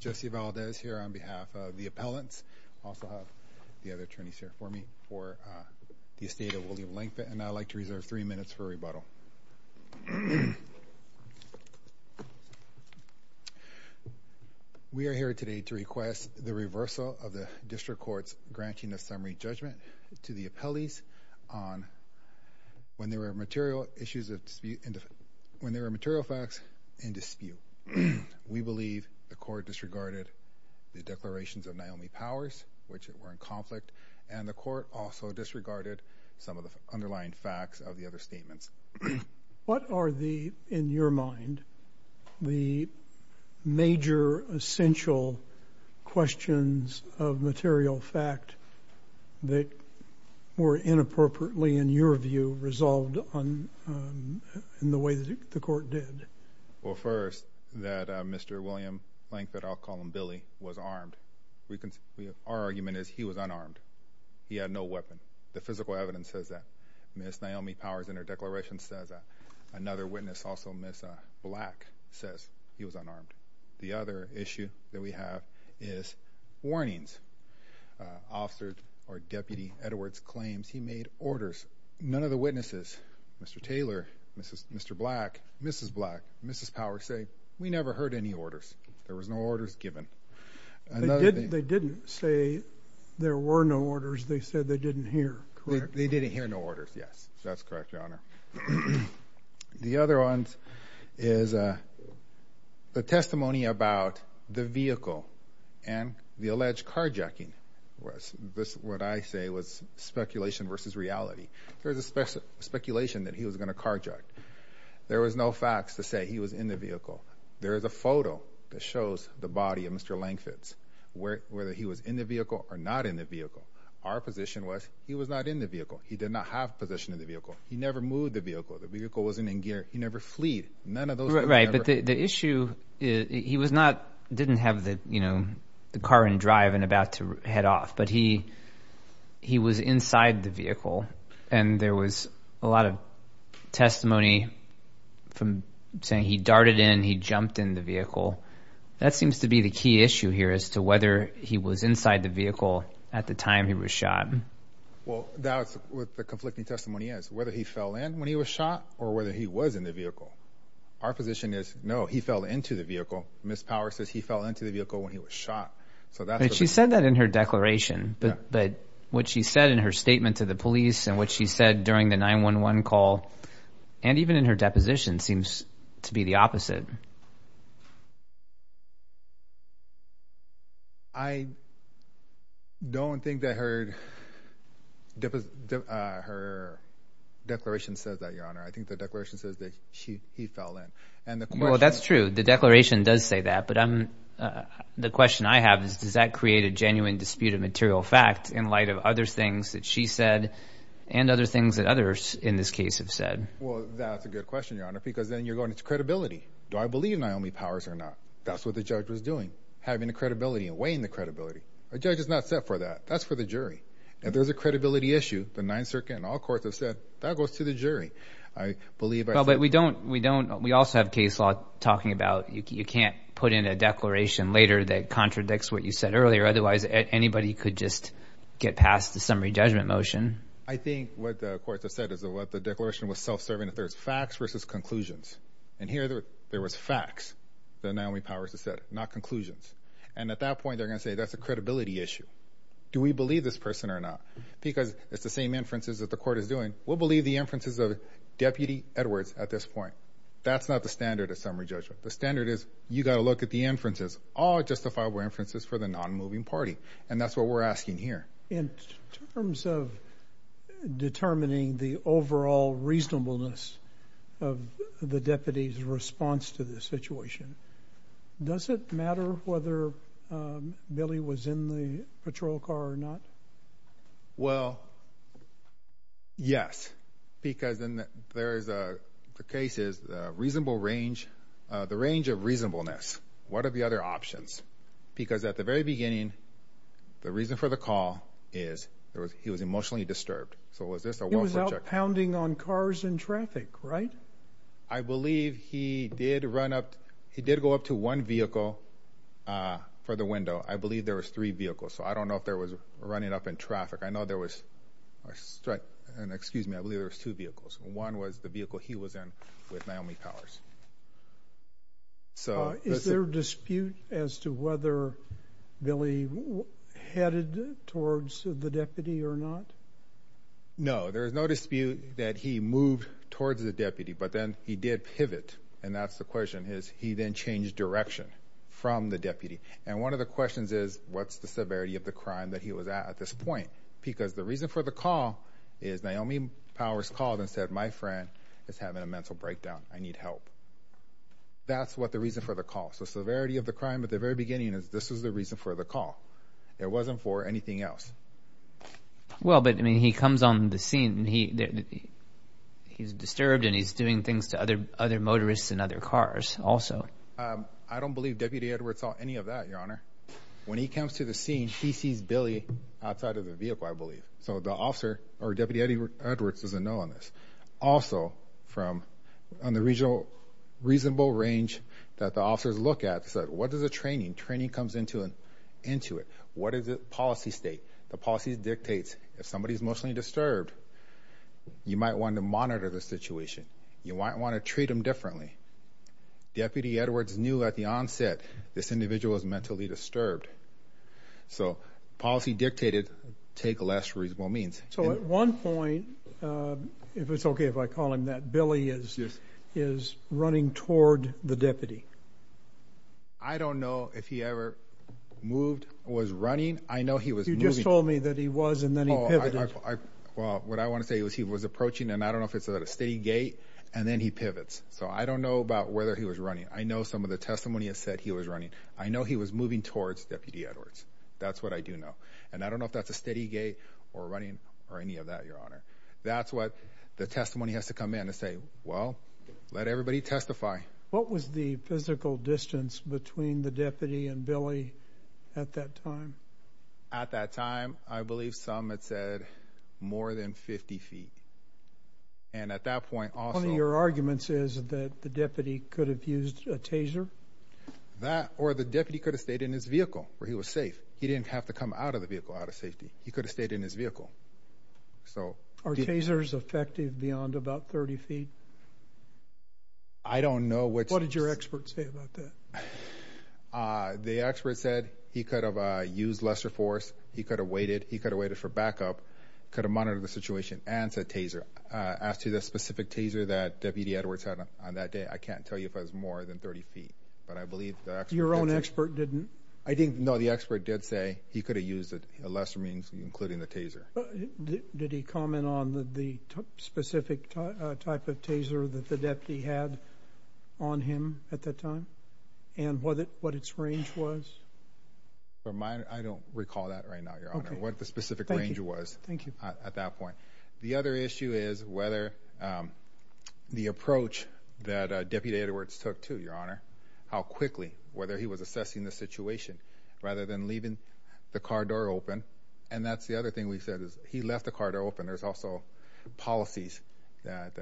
Jesse Valdez here on behalf of the appellants. I also have the other attorneys here for me for the estate of William Langfitt and I'd like to reserve three minutes for rebuttal. We are here today to request the reversal of the district court's granting of summary judgment to the appellees on when there were material issues of dispute and when there were material facts in dispute. We believe the court disregarded the declarations of Naomi Powers which were in conflict and the court also disregarded some of the underlying facts of the other statements. What are the, in your mind, the major essential questions of material fact that were inappropriately, in your view, resolved in the way that the court did? Well first, that Mr. William Langfitt, I'll call him Billy, was armed. Our argument is he was unarmed. He had no weapon. The physical evidence says that. Miss Naomi Powers in her declaration says that. Another witness, also Miss Black, says he was unarmed. The other issue that we have is warnings officers or Deputy Edwards claims he made orders. None of the witnesses, Mr. Taylor, Mr. Black, Mrs. Black, Mrs. Powers, say we never heard any orders. There was no orders given. They didn't say there were no orders. They said they didn't hear, correct? They didn't hear no orders, yes. That's correct, your honor. The other ones is the testimony about the vehicle and the alleged carjacking was this what I say was speculation versus reality. There was a special speculation that he was going to carjack. There was no facts to say he was in the vehicle. There is a photo that shows the body of Mr. Langfitt, whether he was in the vehicle or not in the vehicle. Our position was he was not in the vehicle. He did not have a position in the vehicle. He never moved the vehicle. The vehicle wasn't in gear. He never fleed. None of those, right? The issue is he was not, didn't have the, you know, the car in drive and about to head off, but he was inside the vehicle and there was a lot of testimony from saying he darted in, he jumped in the vehicle. That seems to be the key issue here as to whether he was inside the vehicle at the time he was shot. Well, that's what the conflicting testimony is, whether he fell in when he was shot or whether he was in the vehicle. Our position is no, he fell into the vehicle. Miss Power says he fell into the vehicle when he was shot. So that's what she said that in her declaration, but what she said in her statement to the police and what she said during the 911 call and even in her deposition seems to be the opposite. I don't think that her, her declaration says that, Your Honor. I think the declaration says that she, he fell in. Well, that's true. The declaration does say that, but I'm, the question I have is, does that create a genuine dispute of material fact in light of other things that she said and other things that others in this case have said? Well, that's a good question, Your Honor, because then you're going to credibility. Do I believe in other things? That's what the judge was doing, having the credibility and weighing the credibility. A judge is not set for that. That's for the jury. If there's a credibility issue, the Ninth Circuit and all courts have said, that goes to the jury. I believe. Well, but we don't, we don't, we also have case law talking about, you can't put in a declaration later that contradicts what you said earlier. Otherwise, anybody could just get past the summary judgment motion. I think what the courts have said is that what the declaration was self-serving, that there's facts versus conclusions. And here there was facts that Naomi Powers has said, not conclusions. And at that point, they're going to say, that's a credibility issue. Do we believe this person or not? Because it's the same inferences that the court is doing. We'll believe the inferences of Deputy Edwards at this point. That's not the standard of summary judgment. The standard is, you got to look at the inferences, all justifiable inferences for the non-moving party. And that's what we're asking here. In terms of determining the overall reasonableness of the deputy's response to this situation, does it matter whether Billy was in the patrol car or not? Well, yes. Because in the, there's a, the case is a reasonable range, the range of reasonableness. What are the other options? Because at the very beginning, the reason for the call is, there was, he was emotionally disturbed. So was this a welfare in traffic, right? I believe he did run up, he did go up to one vehicle for the window. I believe there was three vehicles. So I don't know if there was running up in traffic. I know there was, and excuse me, I believe there was two vehicles. One was the vehicle he was in with Naomi Powers. Is there a dispute as to whether Billy headed towards the deputy or not? No, there's no dispute that he moved towards the deputy, but then he did pivot. And that's the question, is he then changed direction from the deputy? And one of the questions is, what's the severity of the crime that he was at at this point? Because the reason for the call is, Naomi Powers called and said, my friend is having a mental breakdown. I need help. That's what the reason for the call. So severity of the beginning is, this is the reason for the call. It wasn't for anything else. Well, but I mean, he comes on the scene and he's disturbed and he's doing things to other motorists and other cars also. I don't believe Deputy Edwards saw any of that, Your Honor. When he comes to the scene, he sees Billy outside of the vehicle, I believe. So the officer or Deputy Edwards doesn't know on Also from on the reasonable range that the officers look at, what is the training? Training comes into it. What is the policy state? The policy dictates if somebody's emotionally disturbed, you might want to monitor the situation. You might want to treat them differently. Deputy Edwards knew at the onset this individual was mentally disturbed. So policy take less reasonable means. So at one point, if it's okay if I call him that, Billy is running toward the deputy. I don't know if he ever moved, was running. I know he was. You just told me that he was and then he pivoted. Well, what I want to say is he was approaching and I don't know if it's at a steady gate and then he pivots. So I don't know about whether he was running. I know some of the testimony has said he was running. I know he was moving towards Deputy Edwards. That's what I do know. And I don't know if that's a steady gate or running or any of that. Your honor. That's what the testimony has to come in and say. Well, let everybody testify. What was the physical distance between the deputy and Billy at that time? At that time, I believe some had said more than 50 ft. And at that point, all your arguments is that the deputy could have used a taser? That or the deputy could have stayed in his vehicle where he was safe. He didn't have to come out of the vehicle out of safety. He could have stayed in his vehicle. So are tasers effective beyond about 30 ft? I don't know what your experts say about that. The expert said he could have used lesser force. He could have waited. He could have waited for backup, could have monitored the situation and said taser asked to the specific taser that Deputy Edwards had on that day. I believe your own expert didn't. I didn't know the expert did say he could have used a lesser means, including the taser. Did he comment on the specific type of taser that the deputy had on him at that time and what it what its range was? But I don't recall that right now. Your honor, what the specific range was. Thank you. At that point. The other issue is whether the approach that Deputy Edwards took to your honor how quickly whether he was assessing the situation rather than leaving the car door open. And that's the other thing we said is he left the car door open. There's also policies that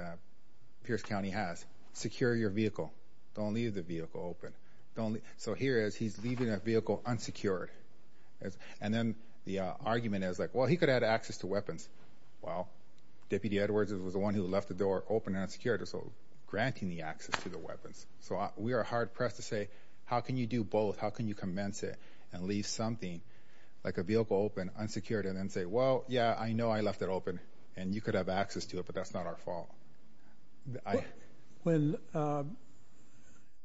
Pierce County has secure your vehicle. Don't leave the vehicle open. So here is he's leaving a vehicle unsecured. And then the argument is like, well, he could add access to weapons. Well, Deputy Edwards was the one who left the door open and unsecured. So granting the access to the weapons. So we are hard pressed to say, how can you do both? How can you commence it and leave something like a vehicle open, unsecured and then say, well, yeah, I know I left it open and you could have access to it, but that's not our fault. When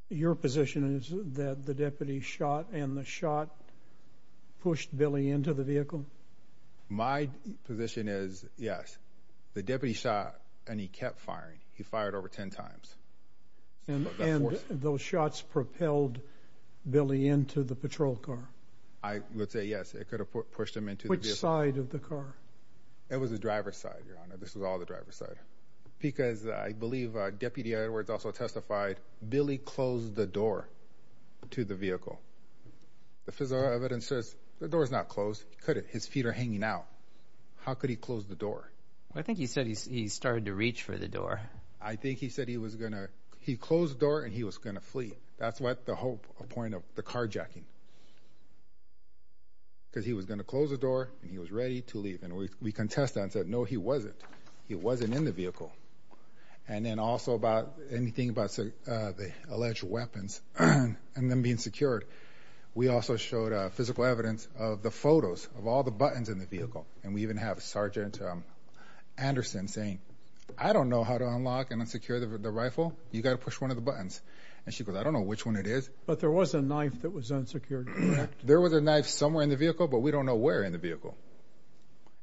your position is that the deputy shot and the shot pushed Billy into the vehicle? My position is yes, the deputy shot and he kept firing. He fired over 10 times and those shots propelled Billy into the patrol car. I would say yes, it could have pushed him into the side of the car. It was the driver's side. Your honor, this is all the driver's side because I believe Deputy Edwards also testified Billy closed the door to the vehicle. The physical evidence says the door is not closed. Could it? His feet are hanging out. How could he close the door? I think he said he started to reach for the door. I think he said he was going to, he closed the door and he was going to flee. That's what the whole point of the carjacking. Because he was going to close the door and he was ready to leave. And we contest that and said, no, he wasn't. He wasn't in the vehicle. And then also about anything about the alleged weapons and them being secured. We also showed physical evidence of the photos of all the buttons in the vehicle. And we even have Sergeant Anderson saying, I don't know how to unlock and unsecure the rifle. You got to push one of the buttons. And she goes, I don't know which one it is. But there was a knife that was unsecured. There was a knife somewhere in the vehicle, but we don't know where in the vehicle.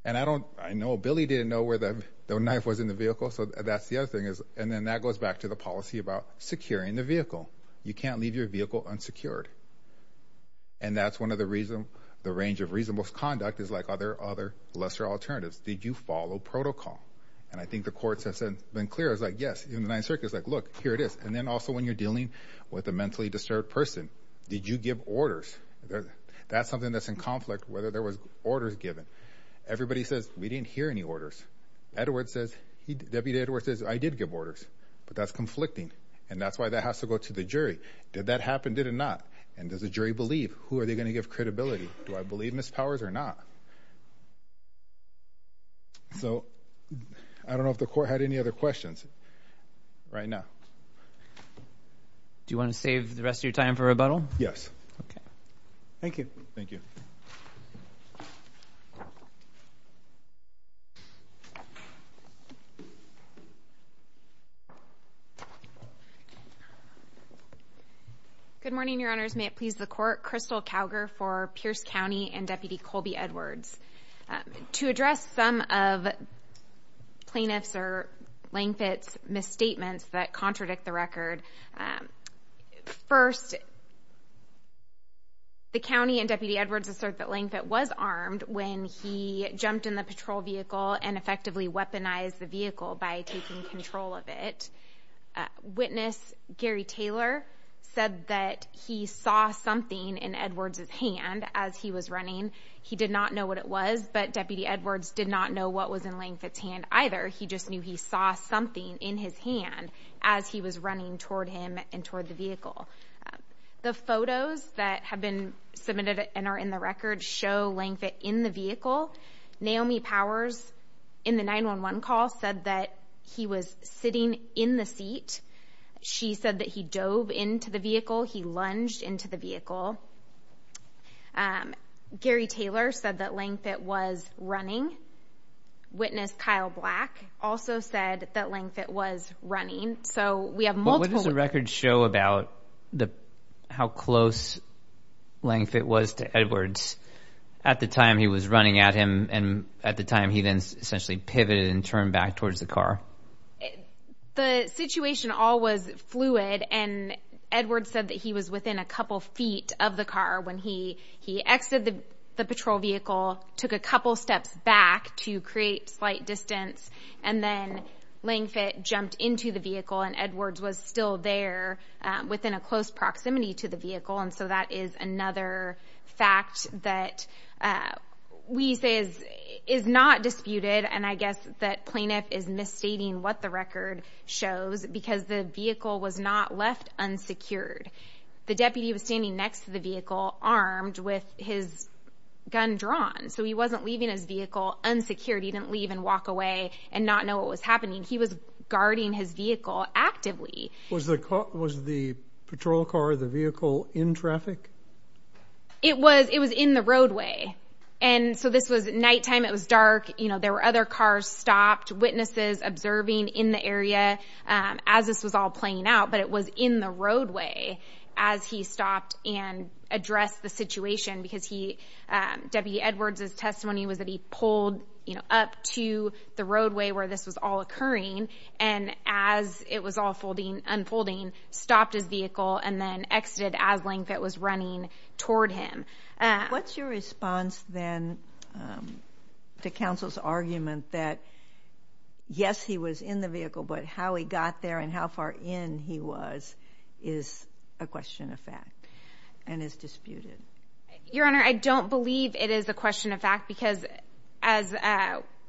And I don't, I know Billy didn't know where the knife was in the vehicle. So that's the other thing is, and then that goes back to the policy about securing the vehicle. You can't leave your vehicle unsecured. And that's one of the reason the range of reasonable conduct is like other, other lesser alternatives. Did you follow protocol? And I think the court has been clear. It's like, yes, in the ninth circuit, it's like, look, here it is. And then also when you're dealing with a mentally disturbed person, did you give orders? That's something that's in conflict, whether there was orders given. Everybody says we didn't hear any orders. Edward says he, Deputy Edward says I did give orders, but that's conflicting. And that's why that has to go to the jury. Did that happen? Did it not? And does the jury believe? Who are they going to give credibility? Do I believe Ms. Powers or not? So I don't know if the court had any other questions right now. Do you want to save the rest of your time for rebuttal? Yes. Okay. Thank you. Good morning, Your Honors. May it please the court. Crystal Calger for Pierce County and Deputy Colby Edwards. To address some of plaintiffs or Langfords misstatements that contradict the record. First, the county and Deputy Edwards assert that Langford was armed when he jumped in the patrol vehicle and effectively weaponized the vehicle by taking control of it. Witness Gary Taylor said that he saw something in Edwards's hand as he was running. He did not know what it was, but Deputy Edwards did not know what was in Langford's hand either. He just knew he saw something in his hand as he was running toward him and toward the vehicle. The photos that have been submitted and are in the record show Langford in the vehicle. Naomi Powers in the 911 call said that he was sitting in the seat. She said that he dove into the vehicle. He lunged into the vehicle. Gary Taylor said that Langford was running. Witness Kyle Black also said that Langford was running. What does the record show about how close Langford was to Edwards at the time he was running at him and at the time he then essentially pivoted and turned back towards the car? The situation all was fluid and Edwards said that he was within a couple feet of the car when he he exited the patrol vehicle, took a couple steps back to create slight distance and then Langford jumped into the vehicle and Edwards was still there within a close proximity to the vehicle and so that is another fact that we say is not disputed and I guess that plaintiff is misstating what the record shows because the vehicle was not left unsecured. The deputy was standing next to the vehicle armed with his gun drawn so he wasn't leaving his vehicle unsecured. He didn't leave and walk away and not know what was happening. He was guarding his vehicle actively. Was the patrol car or the vehicle in traffic? It was in the roadway and so this was nighttime. It was dark. There were other cars stopped. Witnesses observing in the area as this was all playing out but it was in the roadway as he stopped and addressed the situation because he, Deputy Edwards' testimony was that he pulled you know up to the roadway where this was all occurring and as it was all unfolding stopped his vehicle and then exited as Langford was running toward him. What's your response then to counsel's argument that yes he was in the vehicle but how he got there and how far in he was is a question of fact and is disputed? Your Honor, I don't believe it is a question of fact because as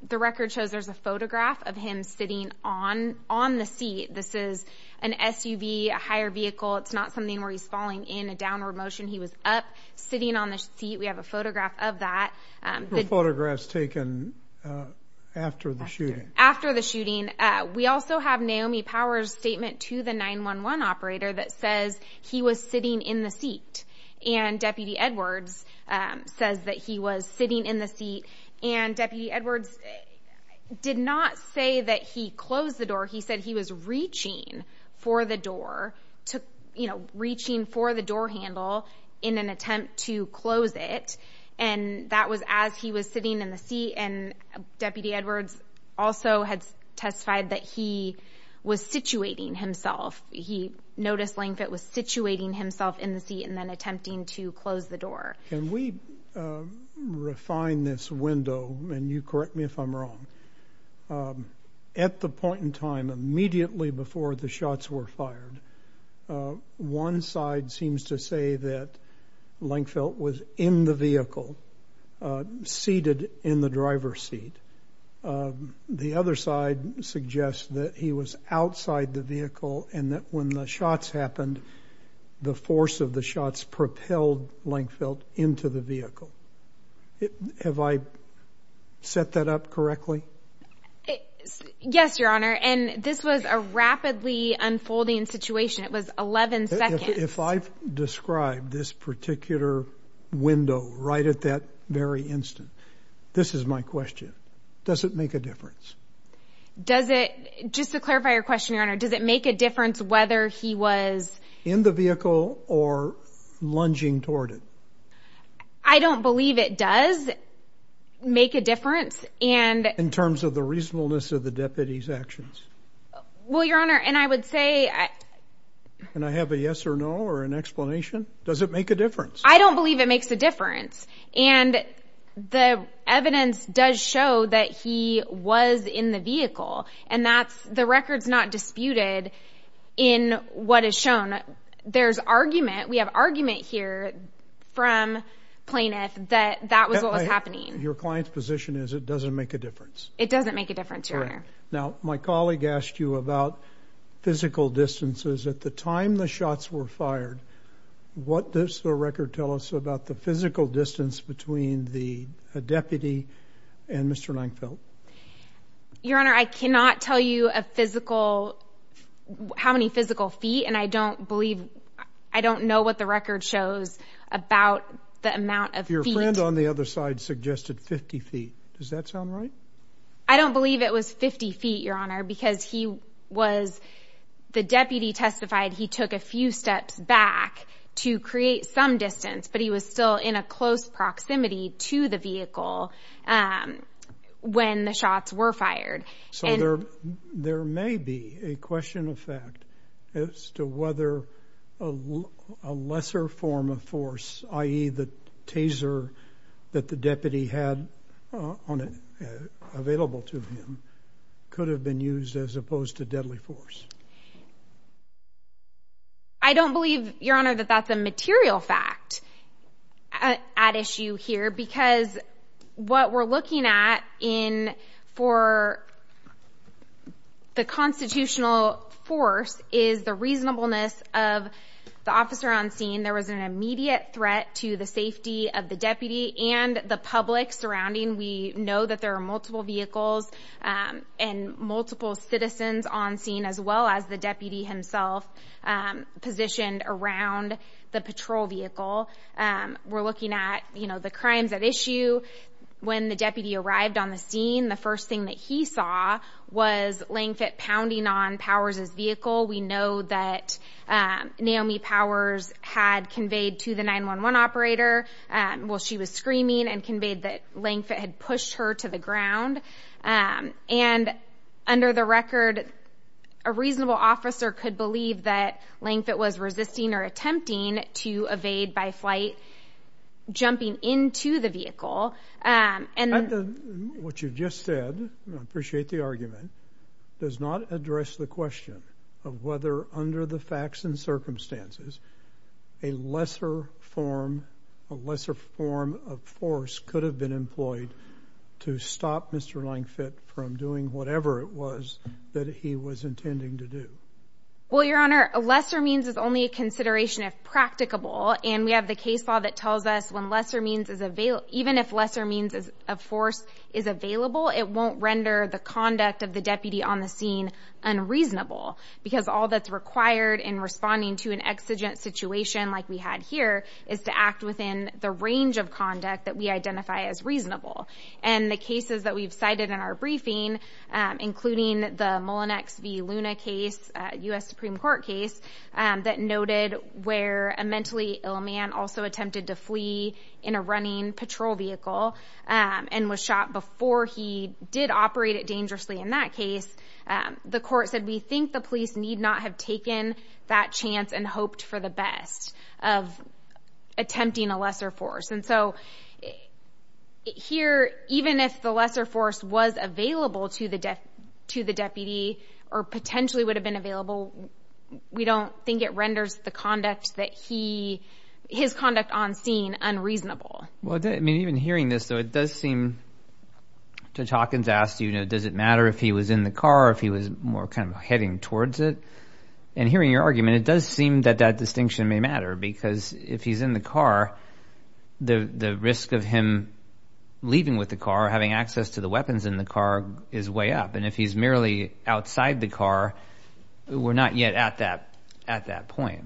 the record shows there's a photograph of him sitting on the seat. This is an SUV, a higher vehicle. It's not something where he's falling in a downward motion. He was up sitting on the seat. We have a photograph of that. Photographs taken after the shooting? After the shooting. We also have Naomi Power's statement to the 911 operator that says he was sitting in the seat and Deputy Edwards says that he was sitting in the seat and Deputy Edwards did not say that he closed the door. He said he was reaching for the door to you know reaching for the door handle in an attempt to close it and that was as he was sitting in the seat and Deputy Edwards also had testified that he was situating himself. He noticed Langford was situating himself in the seat and then attempting to close the door. Can we refine this window and you correct me if I'm wrong. At the point in time was in the vehicle seated in the driver's seat. The other side suggests that he was outside the vehicle and that when the shots happened the force of the shots propelled Langfeld into the vehicle. Have I set that up correctly? Yes, Your Honor and this was a rapidly unfolding situation. It was 11 if I've described this particular window right at that very instant. This is my question. Does it make a difference? Does it just to clarify your question, Your Honor? Does it make a difference whether he was in the vehicle or lunging toward it? I don't believe it does make a difference and in terms of the reasonableness of the deputy's actions. Well, Your Honor and I would say and I have a yes or no or an explanation. Does it make a difference? I don't believe it makes a difference and the evidence does show that he was in the vehicle and that's the records not disputed in what is shown. There's argument. We have argument here from plaintiff that that was what was happening. Your client's position is it doesn't make a difference. It doesn't make a physical distances at the time the shots were fired. What does the record tell us about the physical distance between the deputy and Mr Langfeld? Your Honor, I cannot tell you a physical how many physical feet and I don't believe I don't know what the record shows about the amount of your friend on the other side suggested 50 ft. Does that sound right? I don't believe it was 50 ft. Your Honor, because he was the deputy testified. He took a few steps back to create some distance, but he was still in a close proximity to the vehicle when the shots were fired. So there there may be a question of fact as to whether a lesser form of force, i.e. the opposed to deadly force. I don't believe your honor that that's a material fact at issue here because what we're looking at in for the constitutional force is the reasonableness of the officer on scene. There was an immediate threat to the safety of the deputy and the public surrounding. We know that there are multiple vehicles and multiple citizens on scene as well as the deputy himself positioned around the patrol vehicle. We're looking at, you know, the crimes at issue. When the deputy arrived on the scene, the first thing that he saw was laying fit, pounding on powers his vehicle. We know that Naomi Powers had conveyed to the operator. Well, she was screaming and conveyed that length had pushed her to the ground. And under the record, a reasonable officer could believe that length that was resisting or attempting to evade by flight jumping into the vehicle. And what you just said, I appreciate the argument does not address the question of whether under the facts and circumstances, a lesser form, a lesser form of force could have been employed to stop Mr. Lang fit from doing whatever it was that he was intending to do. Well, your honor, a lesser means is only a consideration of practicable. And we have the case law that tells us when lesser means is available, even if lesser means of force is available, it won't render the conduct of the deputy on the scene unreasonable because all that's required in responding to an exigent situation like we had here is to act within the range of conduct that we identify as reasonable. And the cases that we've cited in our briefing, including the Mullinex v Luna case, a U.S. Supreme Court case that noted where a mentally ill man also attempted to flee in a running patrol vehicle and was shot before he did operate it dangerously. In that case, the court said, we think the police need not have taken that chance and hoped for the best of attempting a lesser force. And so here, even if the lesser force was available to the death to the deputy or potentially would have been available, we don't think it renders the conduct that he, his conduct on scene unreasonable. Well, I mean, even hearing this, though, it does seem, Judge Hawkins asked, you know, does it matter if he was in the car or if he was more kind of heading towards it? And hearing your argument, it does seem that that distinction may matter because if he's in the car, the risk of him leaving with the car, having access to the weapons in the car is way up. And if he's merely outside the car, we're not yet at that at that point.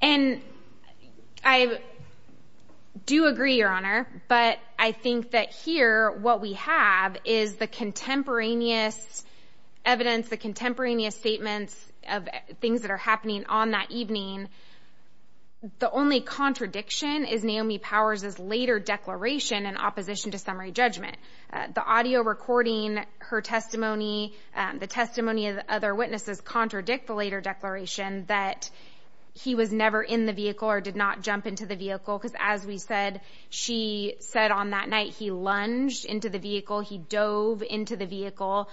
And I do agree, Your Honor. But I think that here what we have is the contemporaneous evidence, the contemporaneous statements of things that are happening on that evening. The only contradiction is Naomi Powers is later declaration in opposition to summary judgment. The audio recording her testimony, the testimony of other witnesses contradict the later declaration that he was never in the vehicle or did not jump into the vehicle. Because as we said, she said on that night, he lunged into the vehicle. He dove into the vehicle.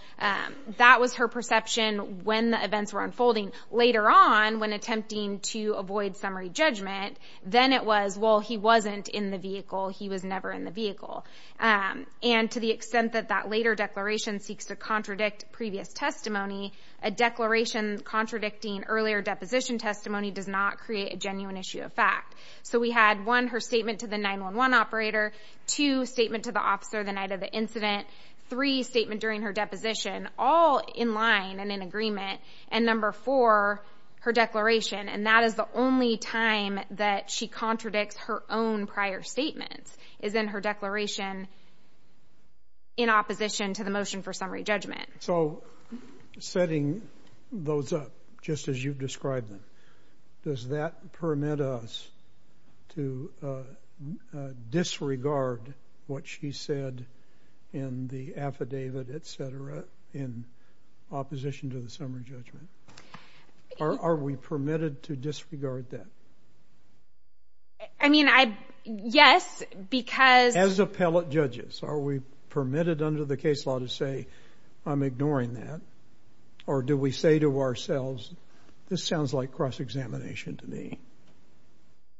That was her perception when the events were unfolding. Later on, when attempting to avoid summary judgment, then it was, well, he wasn't in the vehicle. He was never in the vehicle. And to the extent that that later declaration seeks to contradict previous testimony, a declaration contradicting earlier deposition testimony does not create a genuine issue of fact. So we had one, her statement to the 911 operator, two statement to the officer the night of the incident, three statement during her deposition, all in line and in agreement. And number four, her declaration. And that is the only time that she contradicts her own prior statements is in her declaration in opposition to the motion for summary judgment. So setting those up just as you've described them, does that permit us to disregard what she said in the affidavit, et cetera, in opposition to the summary judgment? Are, are we permitted to disregard that? I mean, I, yes, because as appellate judges, are we permitted under the case law to say I'm ignoring that? Or do we say to ourselves, this sounds like cross-examination to me?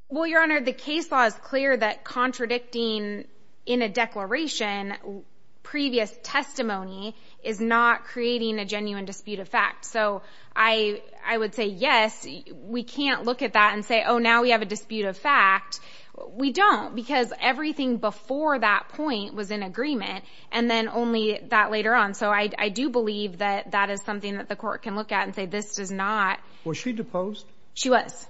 Well, your honor, the case law is clear that contradicting in a declaration previous testimony is not creating a genuine dispute of fact. So I would say, yes, we can't look at that and say, oh, now we have a dispute of fact. We don't because everything before that point was in agreement and then only that later on. So I do believe that that is something that the court can look at and say, this does not. Was she deposed? She was.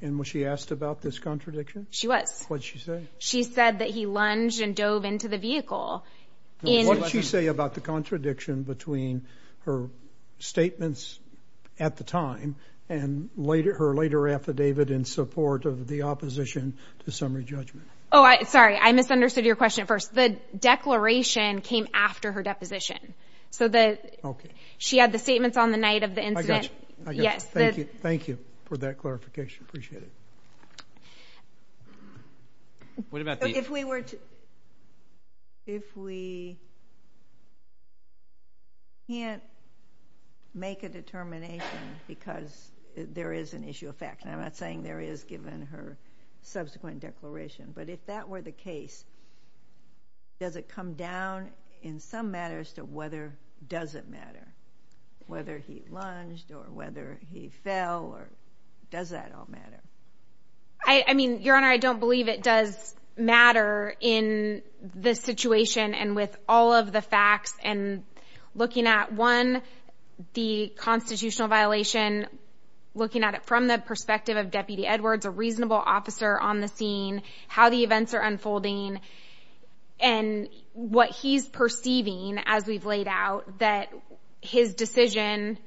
And was she asked about this contradiction? She was. What did she say? She said that he lunged and dove into the vehicle. And what did she say about the contradiction between her statements at the time and later, her later affidavit in support of the opposition to summary judgment? Oh, I, sorry, I misunderstood your question first. The declaration came after her deposition. So the, she had the statements on the night of the incident. Yes. Thank you. Thank you for that clarification. Appreciate it. What about if we were to, if we, can't make a determination because there is an issue of fact, and I'm not saying there is given her subsequent declaration, but if that were the case, does it come down in some matters to whether does it matter whether he lunged or whether he fell or does that all matter? I mean, looking at one, the constitutional violation, looking at it from the perspective of deputy Edwards, a reasonable officer on the scene, how the events are unfolding and what he's perceiving as we've laid out that his decision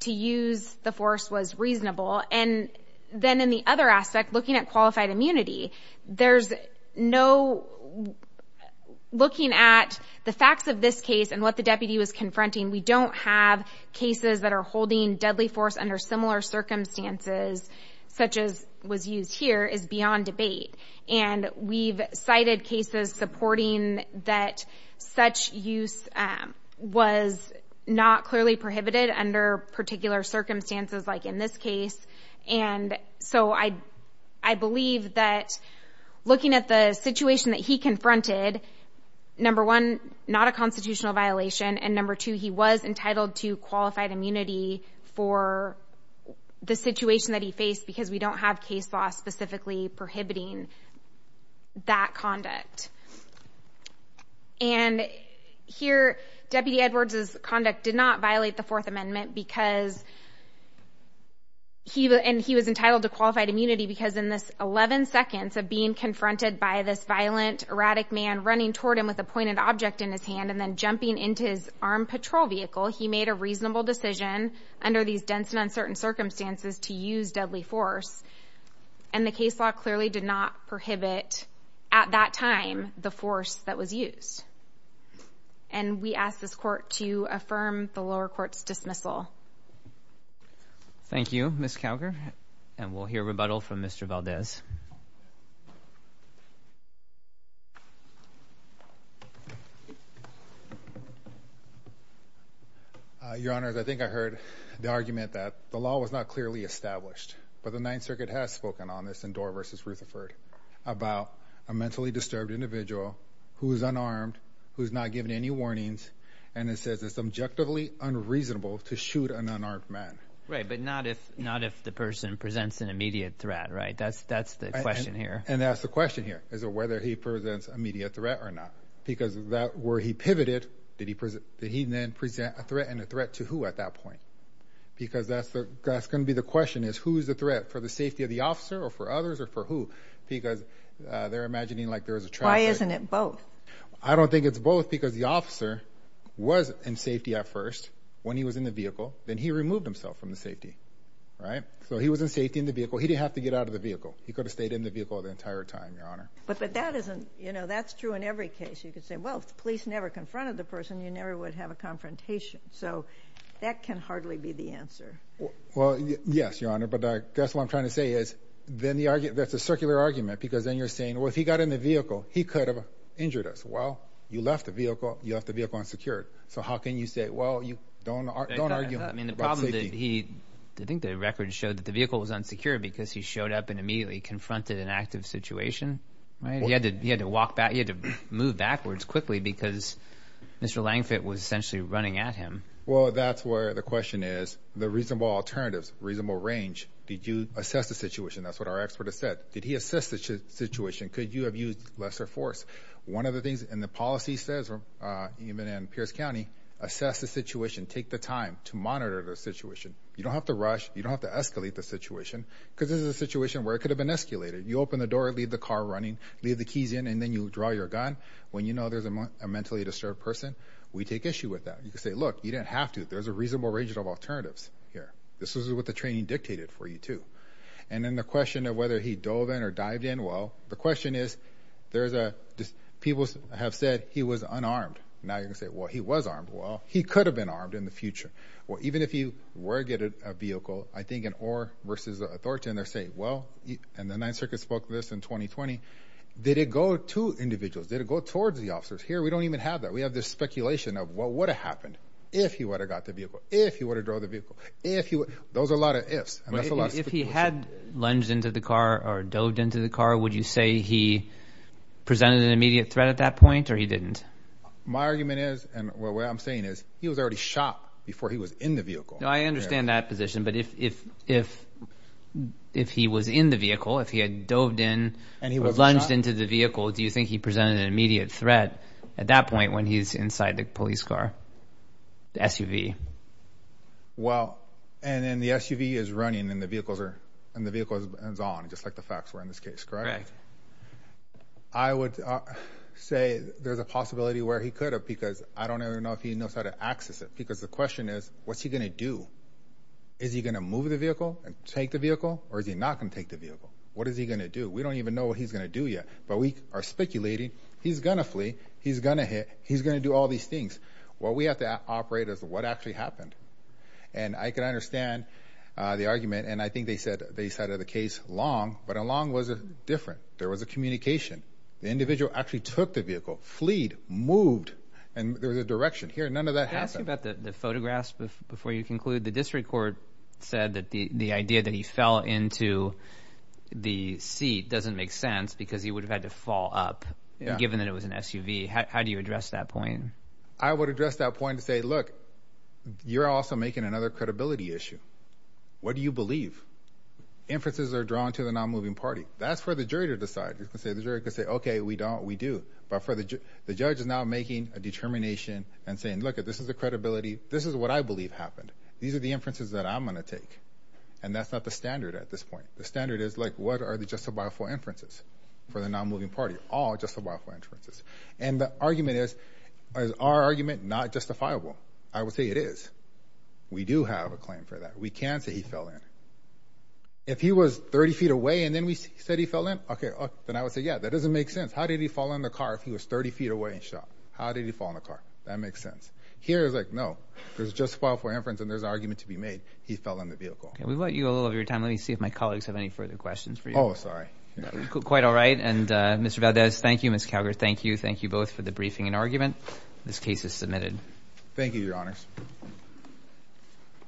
to use the force was reasonable. And then in the other aspect, looking at qualified immunity, there's no looking at the facts of this case and what the deputy was confronting. We don't have cases that are holding deadly force under similar circumstances, such as was used here is beyond debate. And we've cited cases supporting that such use was not clearly prohibited under particular circumstances, like in this case. And so I, I believe that looking at the situation that he confronted, number one, not a constitutional violation. And number two, he was entitled to qualified immunity for the situation that he faced because we don't have case law specifically prohibiting that conduct. And here, deputy Edwards's conduct did not violate the fourth amendment because he, and he was entitled to qualified immunity because in this 11 seconds of being confronted by this violent erratic man running toward him with a pointed object in his hand and then jumping into his armed patrol vehicle, he made a reasonable decision under these dense and uncertain circumstances to use deadly force. And the case law clearly did not prohibit at that time, the force that was used. And we asked this court to affirm the lower court's dismissal. Thank you, Ms. Calger. And we'll hear from Mr. Valdez. Your honor, I think I heard the argument that the law was not clearly established, but the ninth circuit has spoken on this in door versus Rutherford about a mentally disturbed individual who is unarmed, who's not given any warnings. And it says it's objectively unreasonable to shoot an unarmed man. Right. But not if, not if the person presents an immediate threat, right? That's, that's the question here. And that's the question here is whether he presents immediate threat or not, because that where he pivoted, did he present, did he then present a threat and a threat to who at that point? Because that's the, that's going to be the question is who's the threat for the safety of the officer or for others or for who, because they're imagining like there was a trap. Why isn't it both? I don't think it's both because the officer was in safety at first when he was in the vehicle, then he removed himself from the safety, right? So he was in safety in the vehicle. He didn't have to get out of the vehicle. He could have stayed in the vehicle the entire time, your honor. But, but that isn't, you know, that's true in every case. You could say, well, if the police never confronted the person, you never would have a confrontation. So that can hardly be the answer. Well, yes, your honor. But that's what I'm trying to say is then the argument that's a circular argument, because then you're saying, well, if he got in the vehicle, he could have injured us. Well, you left the vehicle, you left the vehicle unsecured. So how can you say, well, you don't, don't argue. I mean, the problem that he, I think the record showed that the vehicle was unsecure because he showed up and immediately confronted an active situation, right? He had to, he had to walk back. He had to move backwards quickly because Mr. Langford was essentially running at him. Well, that's where the question is, the reasonable alternatives, reasonable range. Did you assess the situation? That's what our expert has said. Did he assess the situation? Could you have used lesser force? One of the policies says, even in Pierce County, assess the situation, take the time to monitor the situation. You don't have to rush. You don't have to escalate the situation because this is a situation where it could have been escalated. You open the door, leave the car running, leave the keys in, and then you draw your gun. When you know there's a mentally disturbed person, we take issue with that. You could say, look, you didn't have to. There's a reasonable range of alternatives here. This is what the training dictated for you too. And then the question of he dove in or dived in, well, the question is, there's a, people have said he was unarmed. Now you're going to say, well, he was armed. Well, he could have been armed in the future. Well, even if you were getting a vehicle, I think an or versus authority, and they're saying, well, and the Ninth Circuit spoke to this in 2020, did it go to individuals? Did it go towards the officers? Here, we don't even have that. We have this speculation of what would have happened if he would have got the vehicle, if he would have drove the vehicle, if he would, those are ifs. If he had lunged into the car or doved into the car, would you say he presented an immediate threat at that point or he didn't? My argument is, and what I'm saying is, he was already shot before he was in the vehicle. I understand that position, but if he was in the vehicle, if he had doved in and he was lunged into the vehicle, do you think he presented an immediate threat at that point when he's inside the police car, the SUV? Well, and then the SUV is running and the vehicle is on, just like the facts were in this case, correct? I would say there's a possibility where he could have because I don't even know if he knows how to access it because the question is, what's he going to do? Is he going to move the vehicle and take the vehicle or is he not going to take the vehicle? What is he going to do? We don't even know what he's going to do yet, but we are speculating he's going to flee, he's going to hit, he's going to do all these things. What we have to operate is what actually happened and I can understand the argument and I think they said they said of the case, lung, but a lung was different. There was a communication. The individual actually took the vehicle, fleed, moved, and there was a direction here. None of that happened. Can I ask you about the photographs before you conclude? The district court said that the idea that he fell into the seat doesn't make sense because he would have had to fall up given that it was an SUV. How do you address that point? I would address that point to say, look, you're also making another credibility issue. What do you believe? Inferences are drawn to the non-moving party. That's for the jury to decide. You can say the jury could say, okay, we don't, we do, but for the judge, the judge is now making a determination and saying, look, this is the credibility. This is what I believe happened. These are the inferences that I'm going to take. And that's not the standard at this point. The standard is like, what are the justifiable inferences for the non-moving party? All justifiable inferences. And the argument is, is our argument not justifiable? I would say it is. We do have a claim for that. We can say he fell in. If he was 30 feet away and then we said he fell in, okay, then I would say, yeah, that doesn't make sense. How did he fall in the car if he was 30 feet away and shot? How did he fall in the car? That makes sense. Here it's like, no, there's justifiable inference and there's argument to make. He fell in the vehicle. Okay. We want you a little of your time. Let me see if my colleagues have any further questions for you. Oh, sorry. Quite all right. And Mr. Valdez, thank you. Ms. Calgar, thank you. Thank you both for the briefing and argument. This case is submitted. Thank you, your honors.